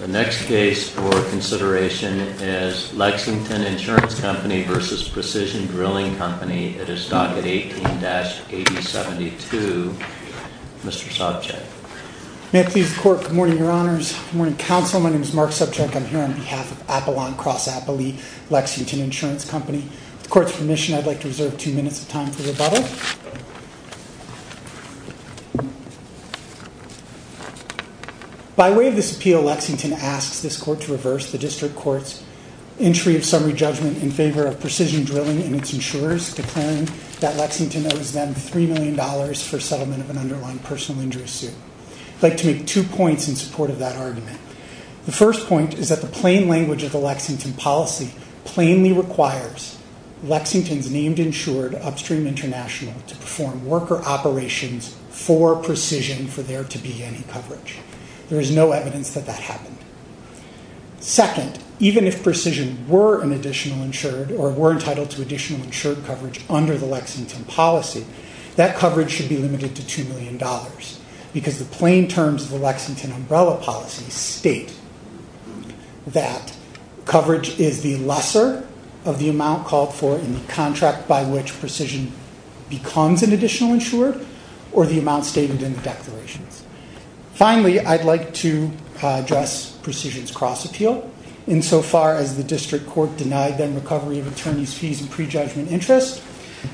The next case for consideration is Lexington Insurance Company v. Precision Drilling Company. It is docket 18-8072. Mr. Sobchak. May it please the court. Good morning, your honors. Good morning, counsel. My name is Mark Sobchak. I'm here on behalf of Apollon Cross-Apolli, Lexington Insurance Company. With the court's permission, I'd like to reserve two minutes of time for rebuttal. By way of this appeal, Lexington asks this court to reverse the district court's entry of summary judgment in favor of Precision Drilling and its insurers, declaring that Lexington owes them $3 million for settlement of an underlying personal injury suit. I'd like to make two points in support of that argument. The first point is that the plain language of the Lexington policy plainly requires Lexington's named insured, Upstream International, to perform worker operations for Precision for there to be any coverage. There is no evidence that that happened. Second, even if Precision were an additional insured or were entitled to additional insured coverage under the Lexington policy, that coverage should be limited to $2 million because the plain terms of the Lexington umbrella policy state that coverage is the lesser of the amount called for in the contract by which Precision becomes an additional insured or the amount stated in the declarations. Finally, I'd like to address Precision's cross-appeal. Insofar as the district court denied them recovery of attorney's fees and prejudgment interest,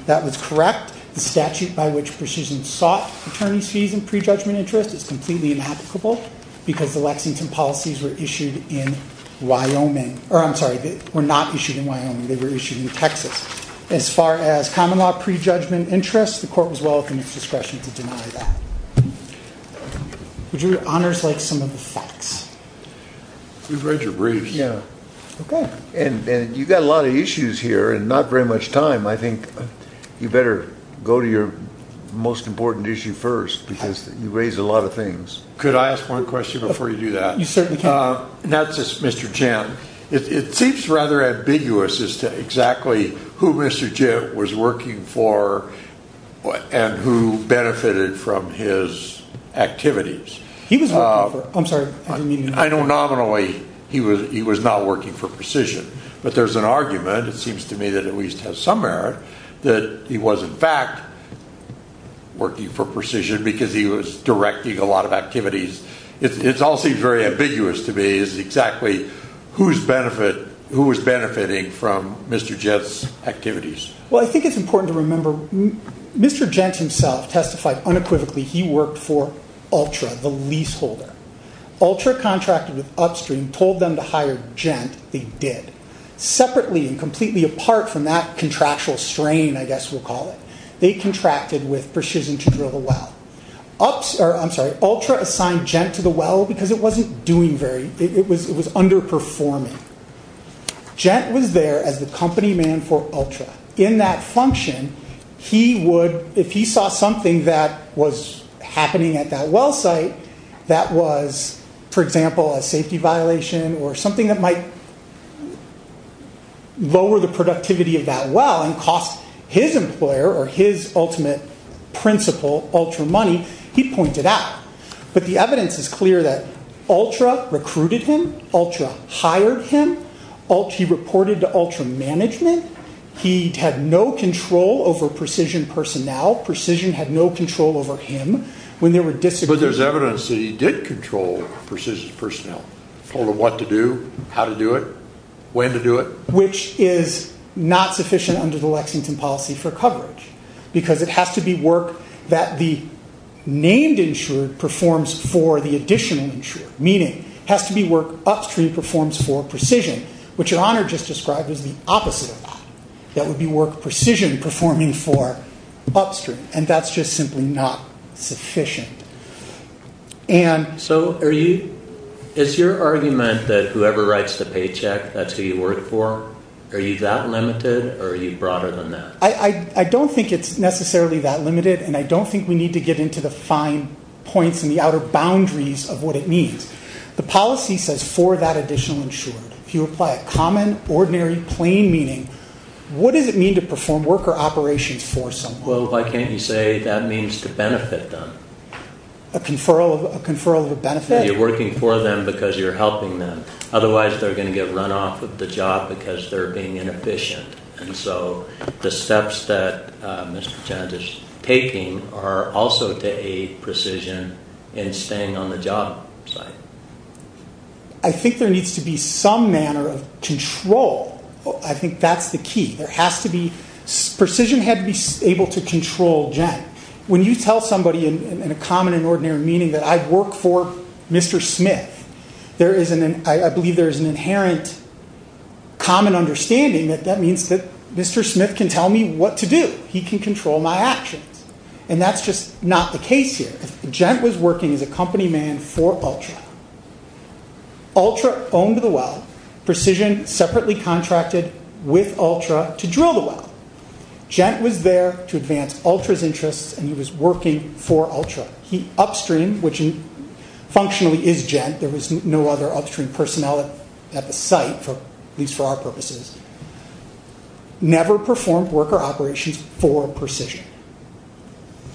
that was correct. The statute by which Precision sought attorney's fees and prejudgment interest is completely inapplicable because the Lexington policies were issued in Wyoming. Or I'm sorry, were not issued in Wyoming. They were issued in Texas. As far as common law prejudgment interest, the court was welcome at its discretion to deny that. Would your honors like some of the facts? We've read your briefs. Yeah. Okay. And you've got a lot of issues here and not very much time. I think you better go to your most important issue first because you raised a lot of things. Could I ask one question before you do that? You certainly can. Not just Mr. Jett. It seems rather ambiguous as to exactly who Mr. Jett was working for and who benefited from his activities. He was working for, I'm sorry. I know nominally he was not working for Precision, but there's an argument, it seems to me, that at least has some merit that he was, in fact, working for Precision because he was directing a lot of activities. It all seems very ambiguous to me as to exactly who was benefiting from Mr. Jett's activities. Well, I think it's important to remember Mr. Jett himself testified unequivocally he worked for Ultra, the leaseholder. Ultra contracted with Upstream, told them to hire Jett, they did. Separately and completely apart from that contractual strain, I guess we'll call it, they contracted with Precision to drill the well. Ultra assigned Jett to the well because it was underperforming. Jett was there as the company man for Ultra. In that function, if he saw something that was happening at that well site that was, for example, a safety violation or something that might lower the productivity of that well and cost his employer or his ultimate principal Ultra money, he'd point it out. But the evidence is clear that Ultra recruited him. Ultra hired him. He reported to Ultra management. He had no control over Precision personnel. Precision had no control over him. But there's evidence that he did control Precision personnel. Told them what to do, how to do it, when to do it. Which is not sufficient under the Lexington policy for coverage. Because it has to be work that the named insurer performs for the additional insurer. Meaning, it has to be work Upstream performs for Precision, which your Honor just described as the opposite of that. That would be work Precision performing for Upstream. And that's just simply not sufficient. So is your argument that whoever writes the paycheck, that's who you work for? Are you that limited? Or are you broader than that? I don't think it's necessarily that limited. And I don't think we need to get into the fine points and the outer boundaries of what it means. The policy says for that additional insurer. If you apply a common, ordinary, plain meaning, what does it mean to perform worker operations for someone? Well, why can't you say that means to benefit them? A conferral of a benefit? You're working for them because you're helping them. Otherwise, they're going to get run off of the job because they're being inefficient. And so the steps that Mr. Chan is taking are also to aid Precision in staying on the job site. I think there needs to be some manner of control. I think that's the key. Precision had to be able to control Gent. When you tell somebody in a common and ordinary meaning that I work for Mr. Smith, I believe there is an inherent common understanding that that means that Mr. Smith can tell me what to do. He can control my actions. And that's just not the case here. Gent was working as a company man for Ultra. Ultra owned the well. Precision separately contracted with Ultra to drill the well. Gent was there to advance Ultra's interests, and he was working for Ultra. He upstream, which functionally is Gent, there was no other upstream personnel at the site, at least for our purposes, never performed worker operations for Precision.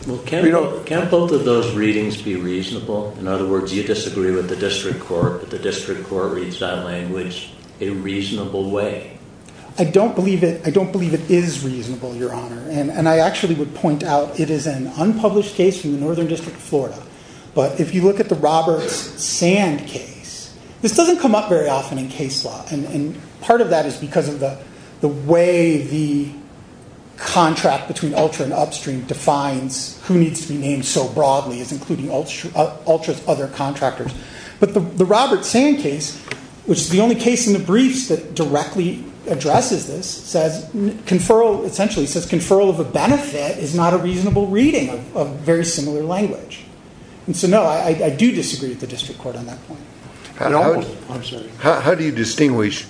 Well, can't both of those readings be reasonable? In other words, you disagree with the district court, but the district court reads that language in a reasonable way. I don't believe it is reasonable, Your Honor. And I actually would point out it is an unpublished case from the Northern District of Florida. But if you look at the Roberts Sand case, this doesn't come up very often in case law. And part of that is because of the way the contract between Ultra and Upstream defines who needs to be named so broadly as including Ultra's other contractors. But the Roberts Sand case, which is the only case in the briefs that directly addresses this, says conferral of a benefit is not a reasonable reading of very similar language. And so, no, I do disagree with the district court on that point. I'm sorry. How do you distinguish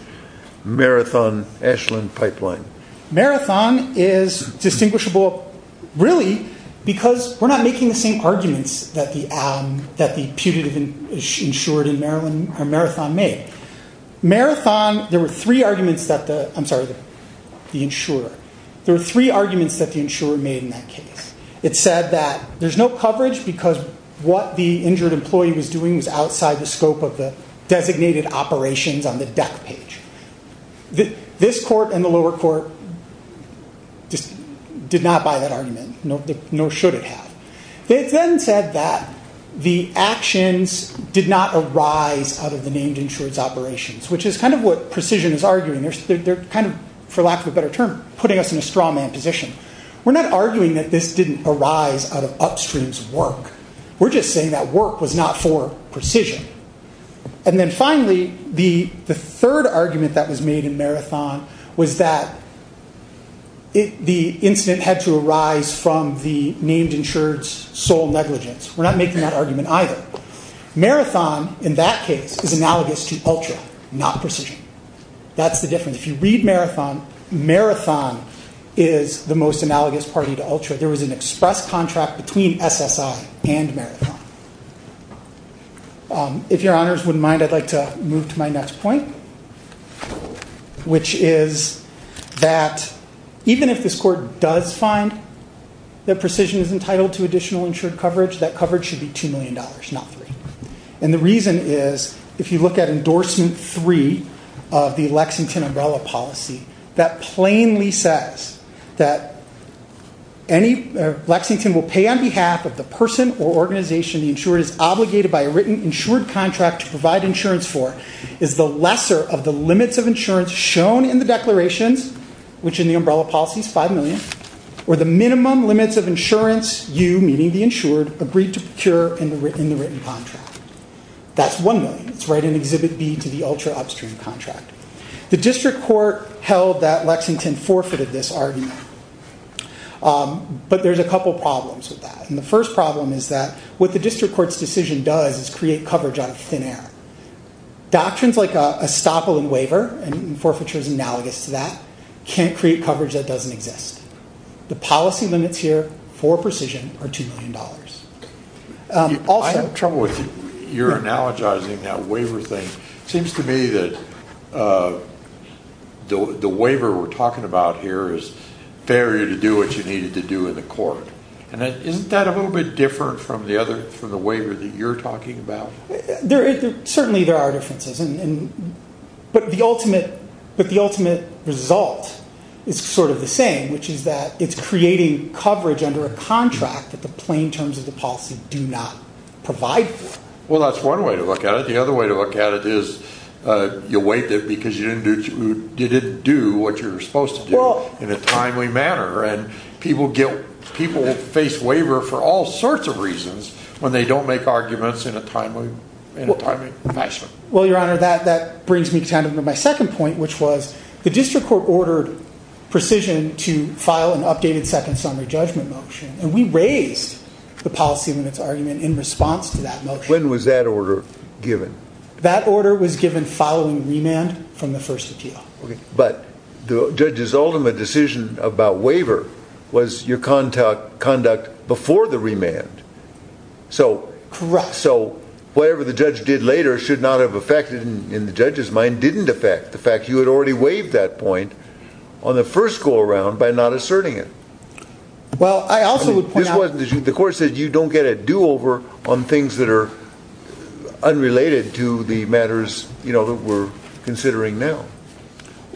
Marathon, Ashland, Pipeline? Marathon is distinguishable, really, because we're not making the same arguments that the putative insured in Marathon made. Marathon, there were three arguments that the, I'm sorry, the insurer. There were three arguments that the insurer made in that case. It said that there's no coverage because what the injured employee was doing was outside the scope of the designated operations on the deck page. This court and the lower court just did not buy that argument, nor should it have. They then said that the actions did not arise out of the named insured's operations, which is kind of what precision is arguing. They're kind of, for lack of a better term, putting us in a straw man position. We're not arguing that this didn't arise out of Upstream's work. We're just saying that work was not for precision. And then finally, the third argument that was made in Marathon was that the incident had to arise from the named insured's sole negligence. We're not making that argument either. Marathon, in that case, is analogous to Ultra, not Precision. That's the difference. If you read Marathon, Marathon is the most analogous party to Ultra. There was an express contract between SSI and Marathon. If your honors wouldn't mind, I'd like to move to my next point, which is that even if this court does find that Precision is entitled to additional insured coverage, that coverage should be $2 million, not 3. And the reason is, if you look at Endorsement 3 of the Lexington Umbrella Policy, that plainly says that Lexington will pay on behalf of the person or organization the insured is obligated by a written insured contract to provide insurance for is the lesser of the limits of insurance shown in the declarations, which in the Umbrella Policy is $5 million, or the minimum limits of insurance you, meaning the insured, agreed to procure in the written contract. That's $1 million. It's right in Exhibit B to the Ultra Upstream contract. The district court held that Lexington forfeited this argument. But there's a couple problems with that. And the first problem is that what the district court's decision does is create coverage out of thin air. Doctrines like estoppel and waiver, and forfeiture is analogous to that, can't create coverage that doesn't exist. The policy limits here for Precision are $2 million. I have trouble with your analogizing that waiver thing. It seems to me that the waiver we're talking about here is failure to do what you needed to do in the court. Isn't that a little bit different from the waiver that you're talking about? Certainly there are differences. But the ultimate result is sort of the same, which is that it's creating coverage under a contract that the plain terms of the policy do not provide for. Well, that's one way to look at it. The other way to look at it is you waived it because you didn't do what you're supposed to do in a timely manner. And people face waiver for all sorts of reasons when they don't make arguments in a timely fashion. Well, Your Honor, that brings me to my second point, which was the district court ordered Precision to file an updated second summary judgment motion. And we raised the policy limits argument in response to that motion. When was that order given? That order was given following remand from the first appeal. Okay. But the judge's ultimate decision about waiver was your conduct before the remand. Correct. So whatever the judge did later should not have affected, in the judge's mind, didn't affect the fact you had already waived that point on the first go around by not asserting it. Well, I also would point out— The court said you don't get a do-over on things that are unrelated to the matters, you know, that we're considering now.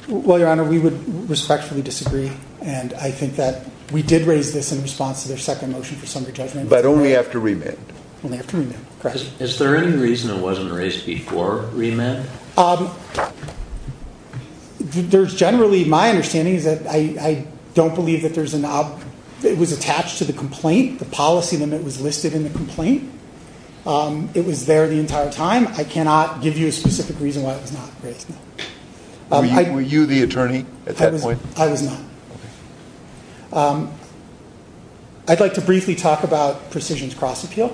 Well, Your Honor, we would respectfully disagree. And I think that we did raise this in response to their second motion for summary judgment. But only after remand. Only after remand. Correct. Is there any reason it wasn't raised before remand? There's generally—my understanding is that I don't believe that there's a—it was attached to the complaint, the policy limit was listed in the complaint. It was there the entire time. I cannot give you a specific reason why it was not raised. Were you the attorney at that point? I was not. Okay. I'd like to briefly talk about Precision's cross appeal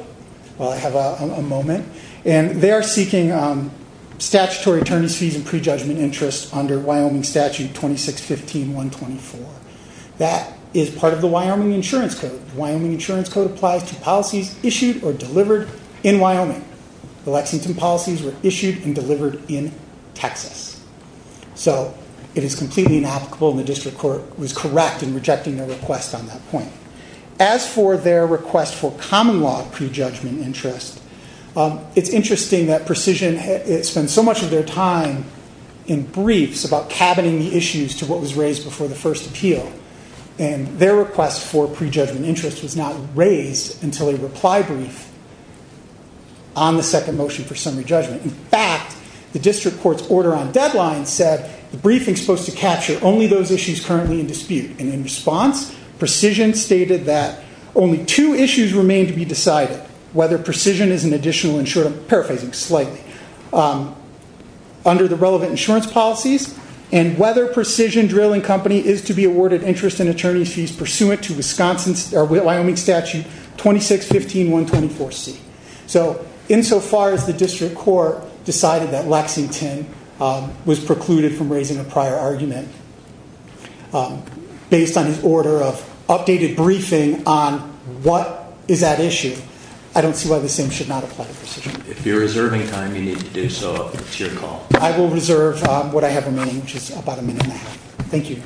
while I have a moment. And they are seeking statutory attorney's fees and prejudgment interest under Wyoming Statute 2615.124. That is part of the Wyoming Insurance Code. The Wyoming Insurance Code applies to policies issued or delivered in Wyoming. The Lexington policies were issued and delivered in Texas. So it is completely inapplicable, and the district court was correct in rejecting their request on that point. As for their request for common law prejudgment interest, it's interesting that Precision spent so much of their time in briefs about cabining the issues to what was raised before the first appeal. And their request for prejudgment interest was not raised until a reply brief on the second motion for summary judgment. In fact, the district court's order on deadline said the briefing is supposed to capture only those issues currently in dispute. And in response, Precision stated that only two issues remain to be decided. Whether Precision is an additional insurance, paraphrasing slightly, under the relevant insurance policies, and whether Precision Drill & Company is to be awarded interest and attorney's fees pursuant to Wyoming Statute 2615.124C. So, insofar as the district court decided that Lexington was precluded from raising a prior argument, based on his order of updated briefing on what is at issue, I don't see why the same should not apply to Precision. If you're reserving time, you need to do so up to your call. I will reserve what I have remaining, which is about a minute and a half. Thank you.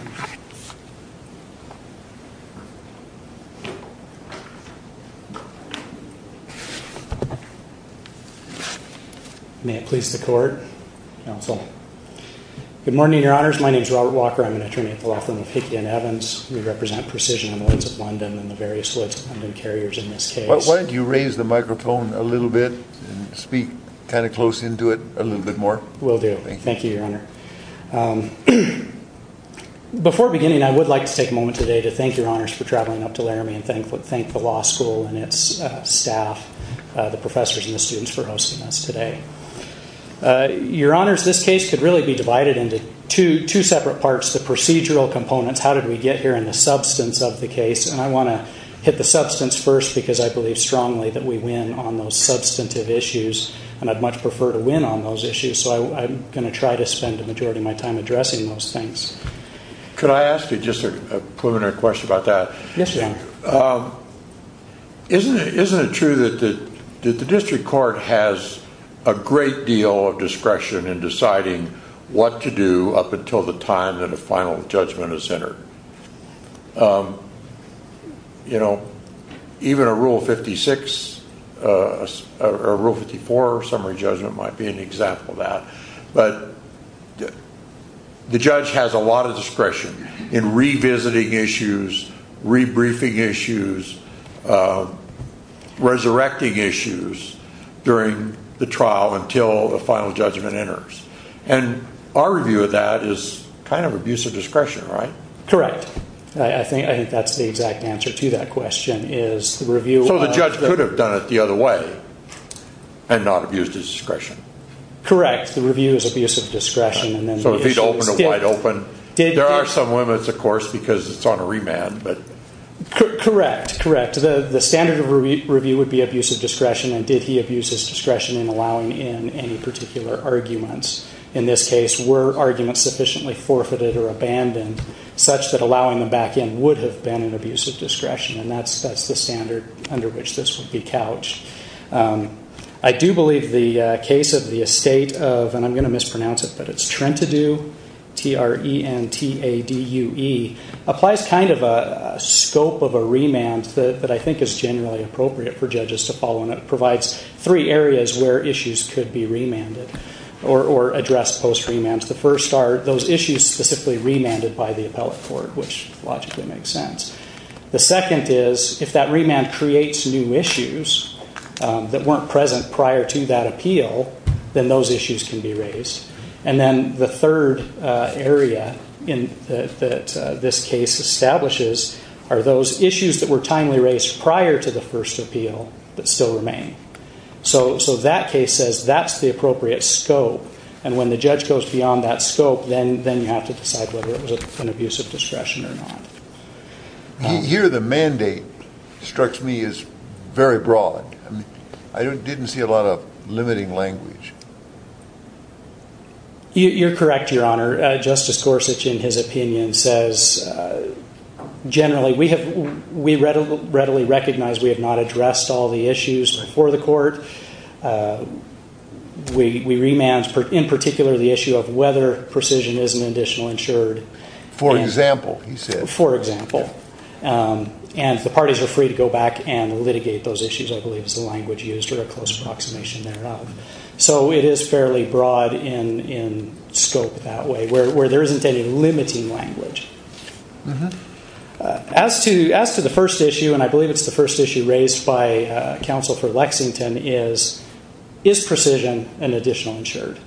May it please the court, counsel. Good morning, your honors. My name is Robert Walker. I'm an attorney at the law firm of Hickey & Evans. We represent Precision in the woods of London and the various woods of London carriers in this case. Why don't you raise the microphone a little bit and speak kind of close into it a little bit more. Will do. Thank you, your honor. Before beginning, I would like to take a moment today to thank your honors for traveling up to Laramie and thank the law school and its staff, the professors and the students for hosting us today. Your honors, this case could really be divided into two separate parts, the procedural components, how did we get here, and the substance of the case. And I want to hit the substance first because I believe strongly that we win on those substantive issues and I'd much prefer to win on those issues. So, I'm going to try to spend the majority of my time addressing those things. Could I ask you just a preliminary question about that? Yes, your honor. Isn't it true that the district court has a great deal of discretion in deciding what to do up until the time that a final judgment is entered? You know, even a rule 56, a rule 54 summary judgment might be an example of that. But the judge has a lot of discretion in revisiting issues, re-briefing issues, resurrecting issues during the trial until a final judgment enters. And our view of that is kind of abuse of discretion, right? Correct. I think that's the exact answer to that question is the review of... So the judge could have done it the other way and not abused his discretion. Correct. The review is abuse of discretion. So if he'd opened a wide open... There are some limits, of course, because it's on a remand, but... Correct, correct. The standard of review would be abuse of discretion and did he abuse his discretion in allowing in any particular arguments. In this case, were arguments sufficiently forfeited or abandoned such that allowing them back in would have been an abuse of discretion? And that's the standard under which this would be couched. I do believe the case of the estate of, and I'm going to mispronounce it, but it's Trentadue, T-R-E-N-T-A-D-U-E, applies kind of a scope of a remand that I think is generally appropriate for judges to follow, and it provides three areas where issues could be remanded or addressed post-remand. The first are those issues specifically remanded by the appellate court, which logically makes sense. The second is if that remand creates new issues that weren't present prior to that appeal, then those issues can be raised. And then the third area that this case establishes are those issues that were timely raised prior to the first appeal that still remain. So that case says that's the appropriate scope, and when the judge goes beyond that scope, then you have to decide whether it was an abuse of discretion or not. Here the mandate, it strikes me, is very broad. I didn't see a lot of limiting language. You're correct, Your Honor. Justice Gorsuch, in his opinion, says generally we readily recognize we have not addressed all the issues before the court. We remand, in particular, the issue of whether precision is an additional insured. For example, he said. For example. And the parties are free to go back and litigate those issues, I believe is the language used, or a close approximation thereof. So it is fairly broad in scope that way, where there isn't any limiting language. As to the first issue, and I believe it's the first issue raised by counsel for Lexington, is precision an additional insured?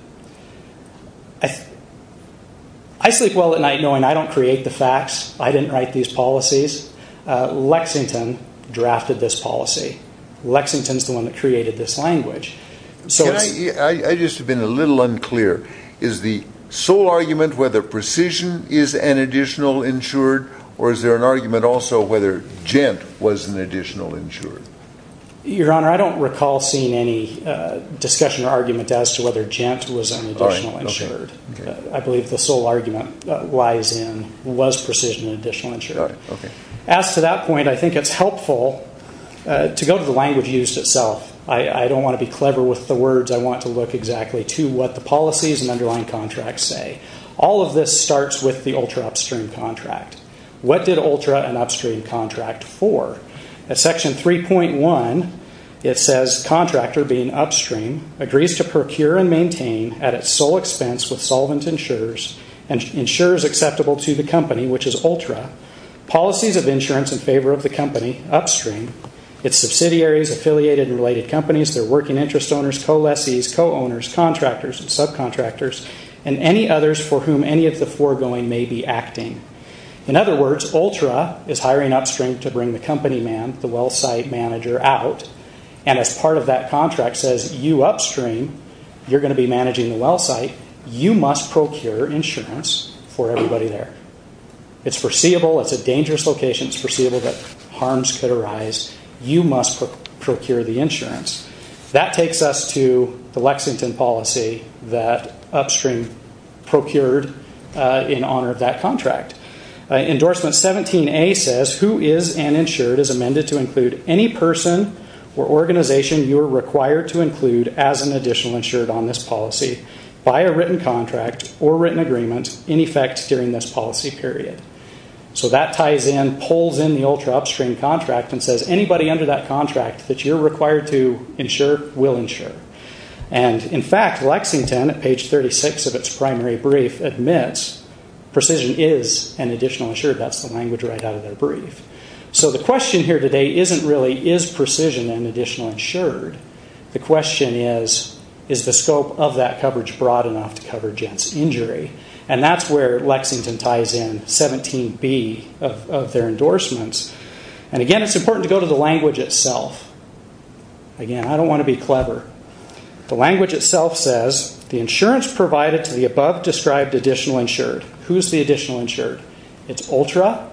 I sleep well at night knowing I don't create the facts. I didn't write these policies. Lexington drafted this policy. Lexington's the one that created this language. I just have been a little unclear. Is the sole argument whether precision is an additional insured, or is there an argument also whether gent was an additional insured? Your Honor, I don't recall seeing any discussion or argument as to whether gent was an additional insured. I believe the sole argument lies in was precision an additional insured. As to that point, I think it's helpful to go to the language used itself. I don't want to be clever with the words. I want to look exactly to what the policies and underlying contracts say. All of this starts with the ultra upstream contract. What did ultra and upstream contract for? At section 3.1, it says contractor being upstream, agrees to procure and maintain at its sole expense with solvent insurers, insurers acceptable to the company, which is ultra, policies of insurance in favor of the company upstream, its subsidiaries, affiliated and related companies, their working interest owners, co-lessees, co-owners, contractors and subcontractors, and any others for whom any of the foregoing may be acting. In other words, ultra is hiring upstream to bring the company man, the well site manager, out. As part of that contract says, you upstream, you're going to be managing the well site. You must procure insurance for everybody there. It's foreseeable. It's a dangerous location. It's foreseeable that harms could arise. You must procure the insurance. That takes us to the Lexington policy that upstream procured in honor of that contract. Endorsement 17A says who is an insured is amended to include any person or organization you are required to include as an additional insured on this policy by a written contract or written agreement in effect during this policy period. That ties in, pulls in the ultra upstream contract and says anybody under that contract that you're required to insure will insure. In fact, Lexington at page 36 of its primary brief admits precision is an additional insured. That's the language right out of their brief. The question here today isn't really is precision an additional insured. The question is, is the scope of that coverage broad enough to cover Jent's injury? That's where Lexington ties in 17B of their endorsements. Again, it's important to go to the language itself. Again, I don't want to be clever. The language itself says the insurance provided to the above described additional insured. Who's the additional insured? It's ultra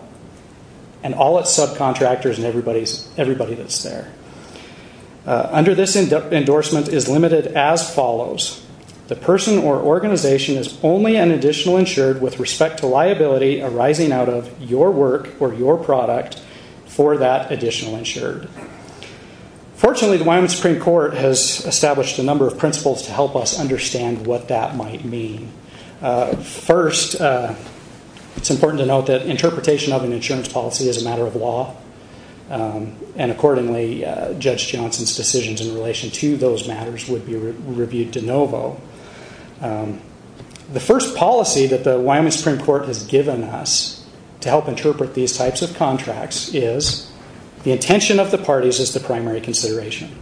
and all its subcontractors and everybody that's there. Under this endorsement is limited as follows. The person or organization is only an additional insured with respect to liability arising out of your work or your product for that additional insured. Fortunately, the Wyoming Supreme Court has established a number of principles to help us understand what that might mean. First, it's important to note that interpretation of an insurance policy is a matter of law. Accordingly, Judge Johnson's decisions in relation to those matters would be reviewed de novo. The first policy that the Wyoming Supreme Court has given us to help interpret these types of contracts is the intention of the parties is the primary consideration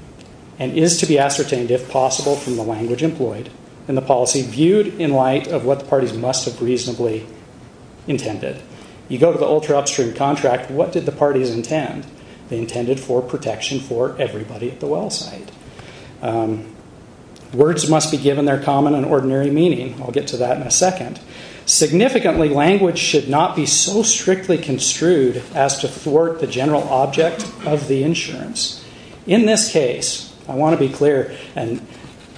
and is to be ascertained, if possible, from the language employed and the policy viewed in light of what the parties must have reasonably intended. You go to the ultra upstream contract, what did the parties intend? They intended for protection for everybody at the well site. Words must be given their common and ordinary meaning. I'll get to that in a second. Significantly, language should not be so strictly construed as to thwart the general object of the insurance. In this case, I want to be clear, and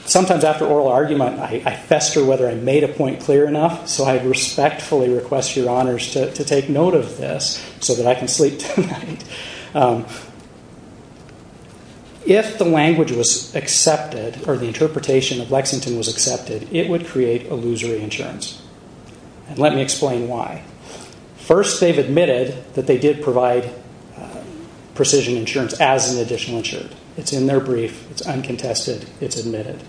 sometimes after oral argument, I fester whether I made a point clear enough, so I respectfully request your honors to take note of this so that I can sleep tonight. If the language was accepted or the interpretation of Lexington was accepted, it would create illusory insurance. Let me explain why. First, they've admitted that they did provide precision insurance as an additional insurance. It's in their brief, it's uncontested, it's admitted.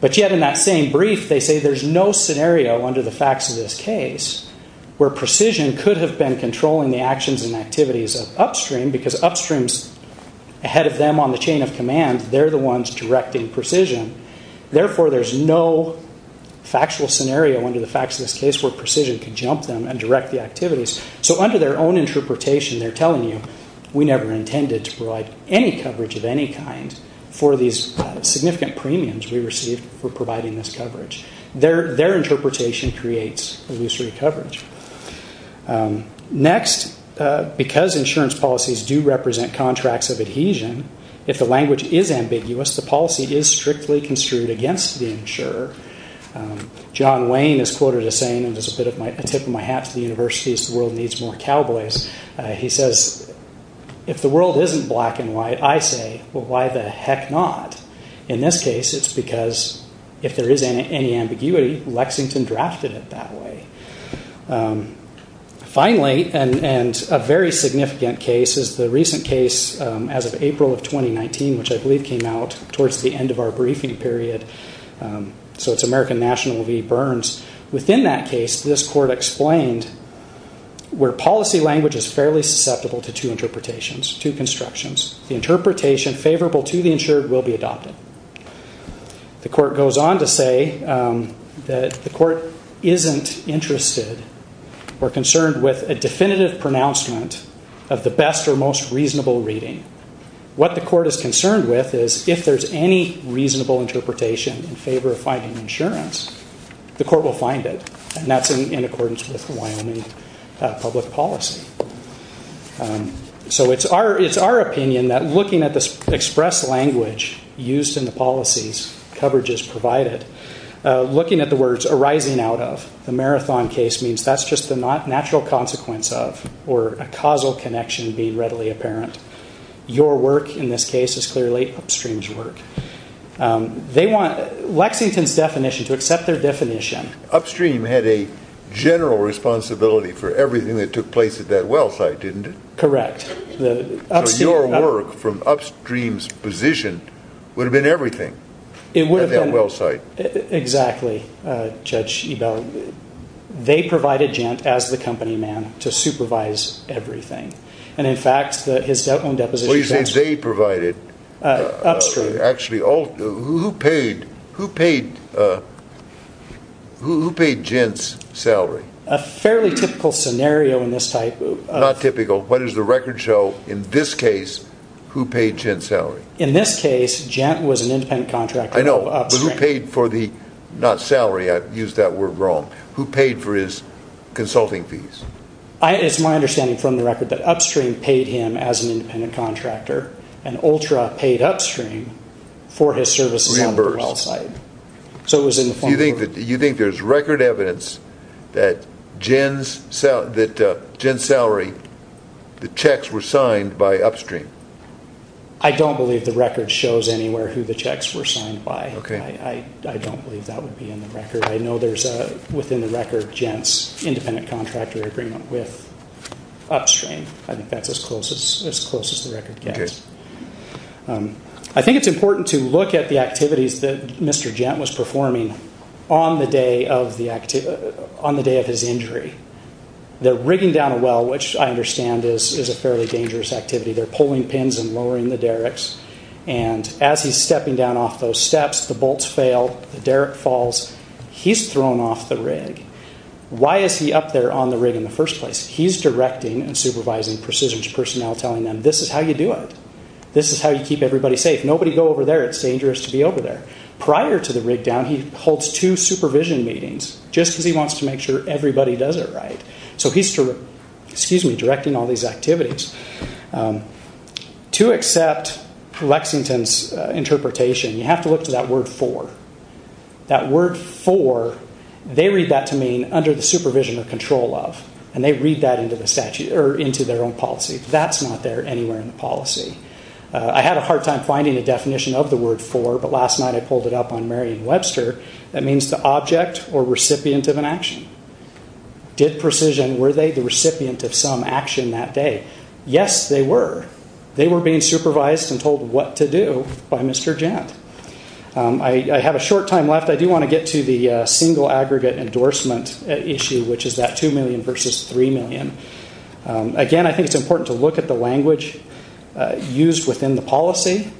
But yet in that same brief, they say there's no scenario under the facts of this case where precision could have been controlling the actions and activities of upstream because upstream's ahead of them on the chain of command. They're the ones directing precision. Therefore, there's no factual scenario under the facts of this case where precision could jump them and direct the activities. So under their own interpretation, they're telling you, we never intended to provide any coverage of any kind for these significant premiums we received for providing this coverage. Their interpretation creates illusory coverage. Next, because insurance policies do represent contracts of adhesion, if the language is ambiguous, the policy is strictly construed against the insurer. John Wayne is quoted as saying, and this is a tip of my hat to the universities, the world needs more cowboys. He says, if the world isn't black and white, I say, well, why the heck not? In this case, it's because if there is any ambiguity, Lexington drafted it that way. Finally, and a very significant case is the recent case as of April of 2019, which I believe came out towards the end of our briefing period. So it's American National v. Burns. Within that case, this court explained where policy language is fairly susceptible to two interpretations, two constructions. The interpretation favorable to the insured will be adopted. The court goes on to say that the court isn't interested or concerned with a definitive pronouncement of the best or most reasonable reading. What the court is concerned with is if there's any reasonable interpretation in favor of finding insurance, the court will find it, and that's in accordance with the Wyoming public policy. So it's our opinion that looking at the express language used in the policies, coverage is provided, looking at the words arising out of, the marathon case means that's just the natural consequence of, or a causal connection being readily apparent. Your work in this case is clearly upstream's work. They want Lexington's definition to accept their definition. Upstream had a general responsibility for everything that took place at that well site, didn't it? Correct. So your work from upstream's position would have been everything at that well site. It would have been. Exactly, Judge Ebell. They provided Gent as the company man to supervise everything. And in fact, his own deposition... Upstream. Actually, who paid Gent's salary? A fairly typical scenario in this type of... Not typical. What does the record show in this case, who paid Gent's salary? In this case, Gent was an independent contractor of Upstream. I know, but who paid for the, not salary, I've used that word wrong, who paid for his consulting fees? It's my understanding from the record that Upstream paid him as an independent contractor and Ultra paid Upstream for his services at the well site. So it was in the form of... You think there's record evidence that Gent's salary, the checks were signed by Upstream? I don't believe the record shows anywhere who the checks were signed by. Okay. I don't believe that would be in the record. I know there's, within the record, Gent's independent contractor agreement with Upstream. I think that's as close as the record gets. Okay. I think it's important to look at the activities that Mr. Gent was performing on the day of his injury. They're rigging down a well, which I understand is a fairly dangerous activity. They're pulling pins and lowering the derricks, and as he's stepping down off those steps, the bolts fail, the derrick falls. He's thrown off the rig. Why is he up there on the rig in the first place? He's directing and supervising precision personnel, telling them, this is how you do it. This is how you keep everybody safe. Nobody go over there. It's dangerous to be over there. Prior to the rig down, he holds two supervision meetings, just because he wants to make sure everybody does it right. So he's directing all these activities. To accept Lexington's interpretation, you have to look to that word for. That word for, they read that to mean under the supervision or control of, and they read that into their own policy. That's not there anywhere in the policy. I had a hard time finding a definition of the word for, but last night I pulled it up on Merriam-Webster. That means the object or recipient of an action. Did precision, were they the recipient of some action that day? Yes, they were. They were being supervised and told what to do by Mr. Gent. I have a short time left. I do want to get to the single aggregate endorsement issue, which is that $2 million versus $3 million. Again, I think it's important to look at the language used within the policy.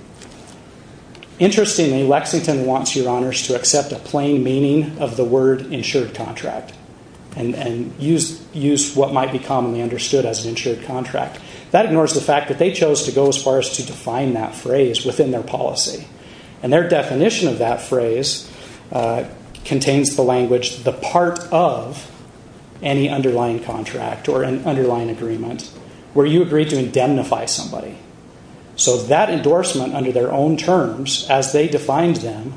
Interestingly, Lexington wants your honors to accept a plain meaning of the word insured contract and use what might be commonly understood as an insured contract. That ignores the fact that they chose to go as far as to define that phrase within their policy. Their definition of that phrase contains the language, the part of any underlying contract or an underlying agreement, where you agree to indemnify somebody. That endorsement under their own terms, as they defined them,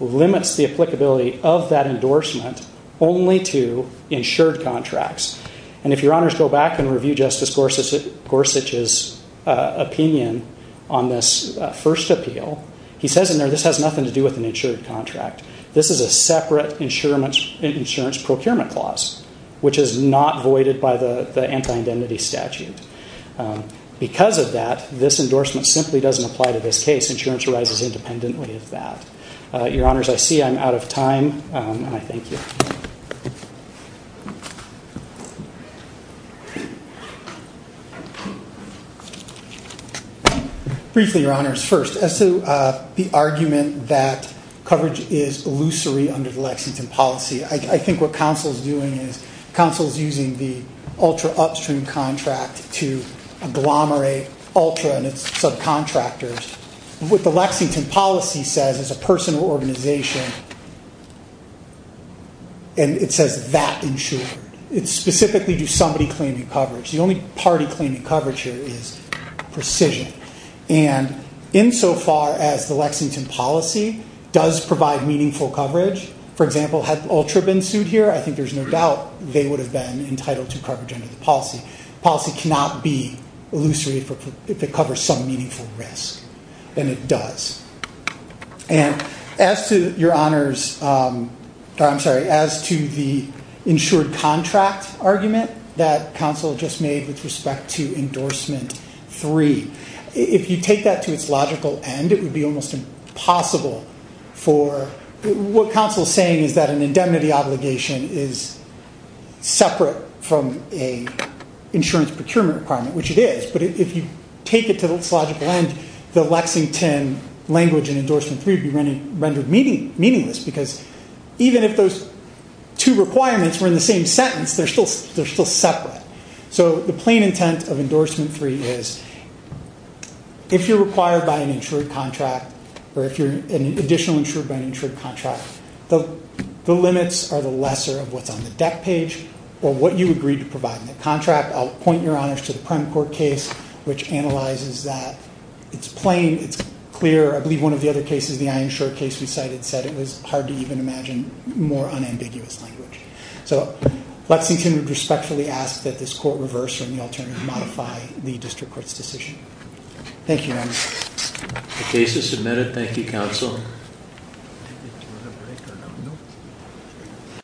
limits the applicability of that endorsement only to insured contracts. If your honors go back and review Justice Gorsuch's opinion on this first appeal, he says in there this has nothing to do with an insured contract. This is a separate insurance procurement clause, which is not voided by the anti-identity statute. Because of that, this endorsement simply doesn't apply to this case. Insurance arises independently of that. Your honors, I see I'm out of time, and I thank you. Briefly, your honors, first, as to the argument that coverage is illusory under the Lexington policy, I think what counsel is doing is counsel is using the ultra upstream contract to agglomerate ultra and its subcontractors. What the Lexington policy says as a personal organization, and it says that insured, it's specifically do somebody claim the coverage. The only party claiming coverage here is precision. And insofar as the Lexington policy does provide meaningful coverage, for example, had the ultra been sued here, I think there's no doubt they would have been entitled to coverage under the policy. Policy cannot be illusory if it covers some meaningful risk. And it does. And as to your honors, I'm sorry, as to the insured contract argument that counsel just made with respect to endorsement three, if you take that to its logical end, it would be almost impossible for, what counsel is saying is that an indemnity obligation is separate from an insurance procurement requirement, which it is. But if you take it to its logical end, the Lexington language in endorsement three would be rendered meaningless because even if those two requirements were in the same sentence, they're still separate. So the plain intent of endorsement three is if you're required by an insured contract or if you're an additional insured by an insured contract, the limits are the lesser of what's on the debt page or what you agreed to provide in the contract. I'll point your honors to the prime court case, which analyzes that it's plain, it's clear. I believe one of the other cases, the insured case we cited, said it was hard to even imagine more unambiguous language. So Lexington would respectfully ask that this court reverse or in the alternative modify the district court's decision. Thank you, your honors. The case is submitted. Thank you, counsel. Thank you.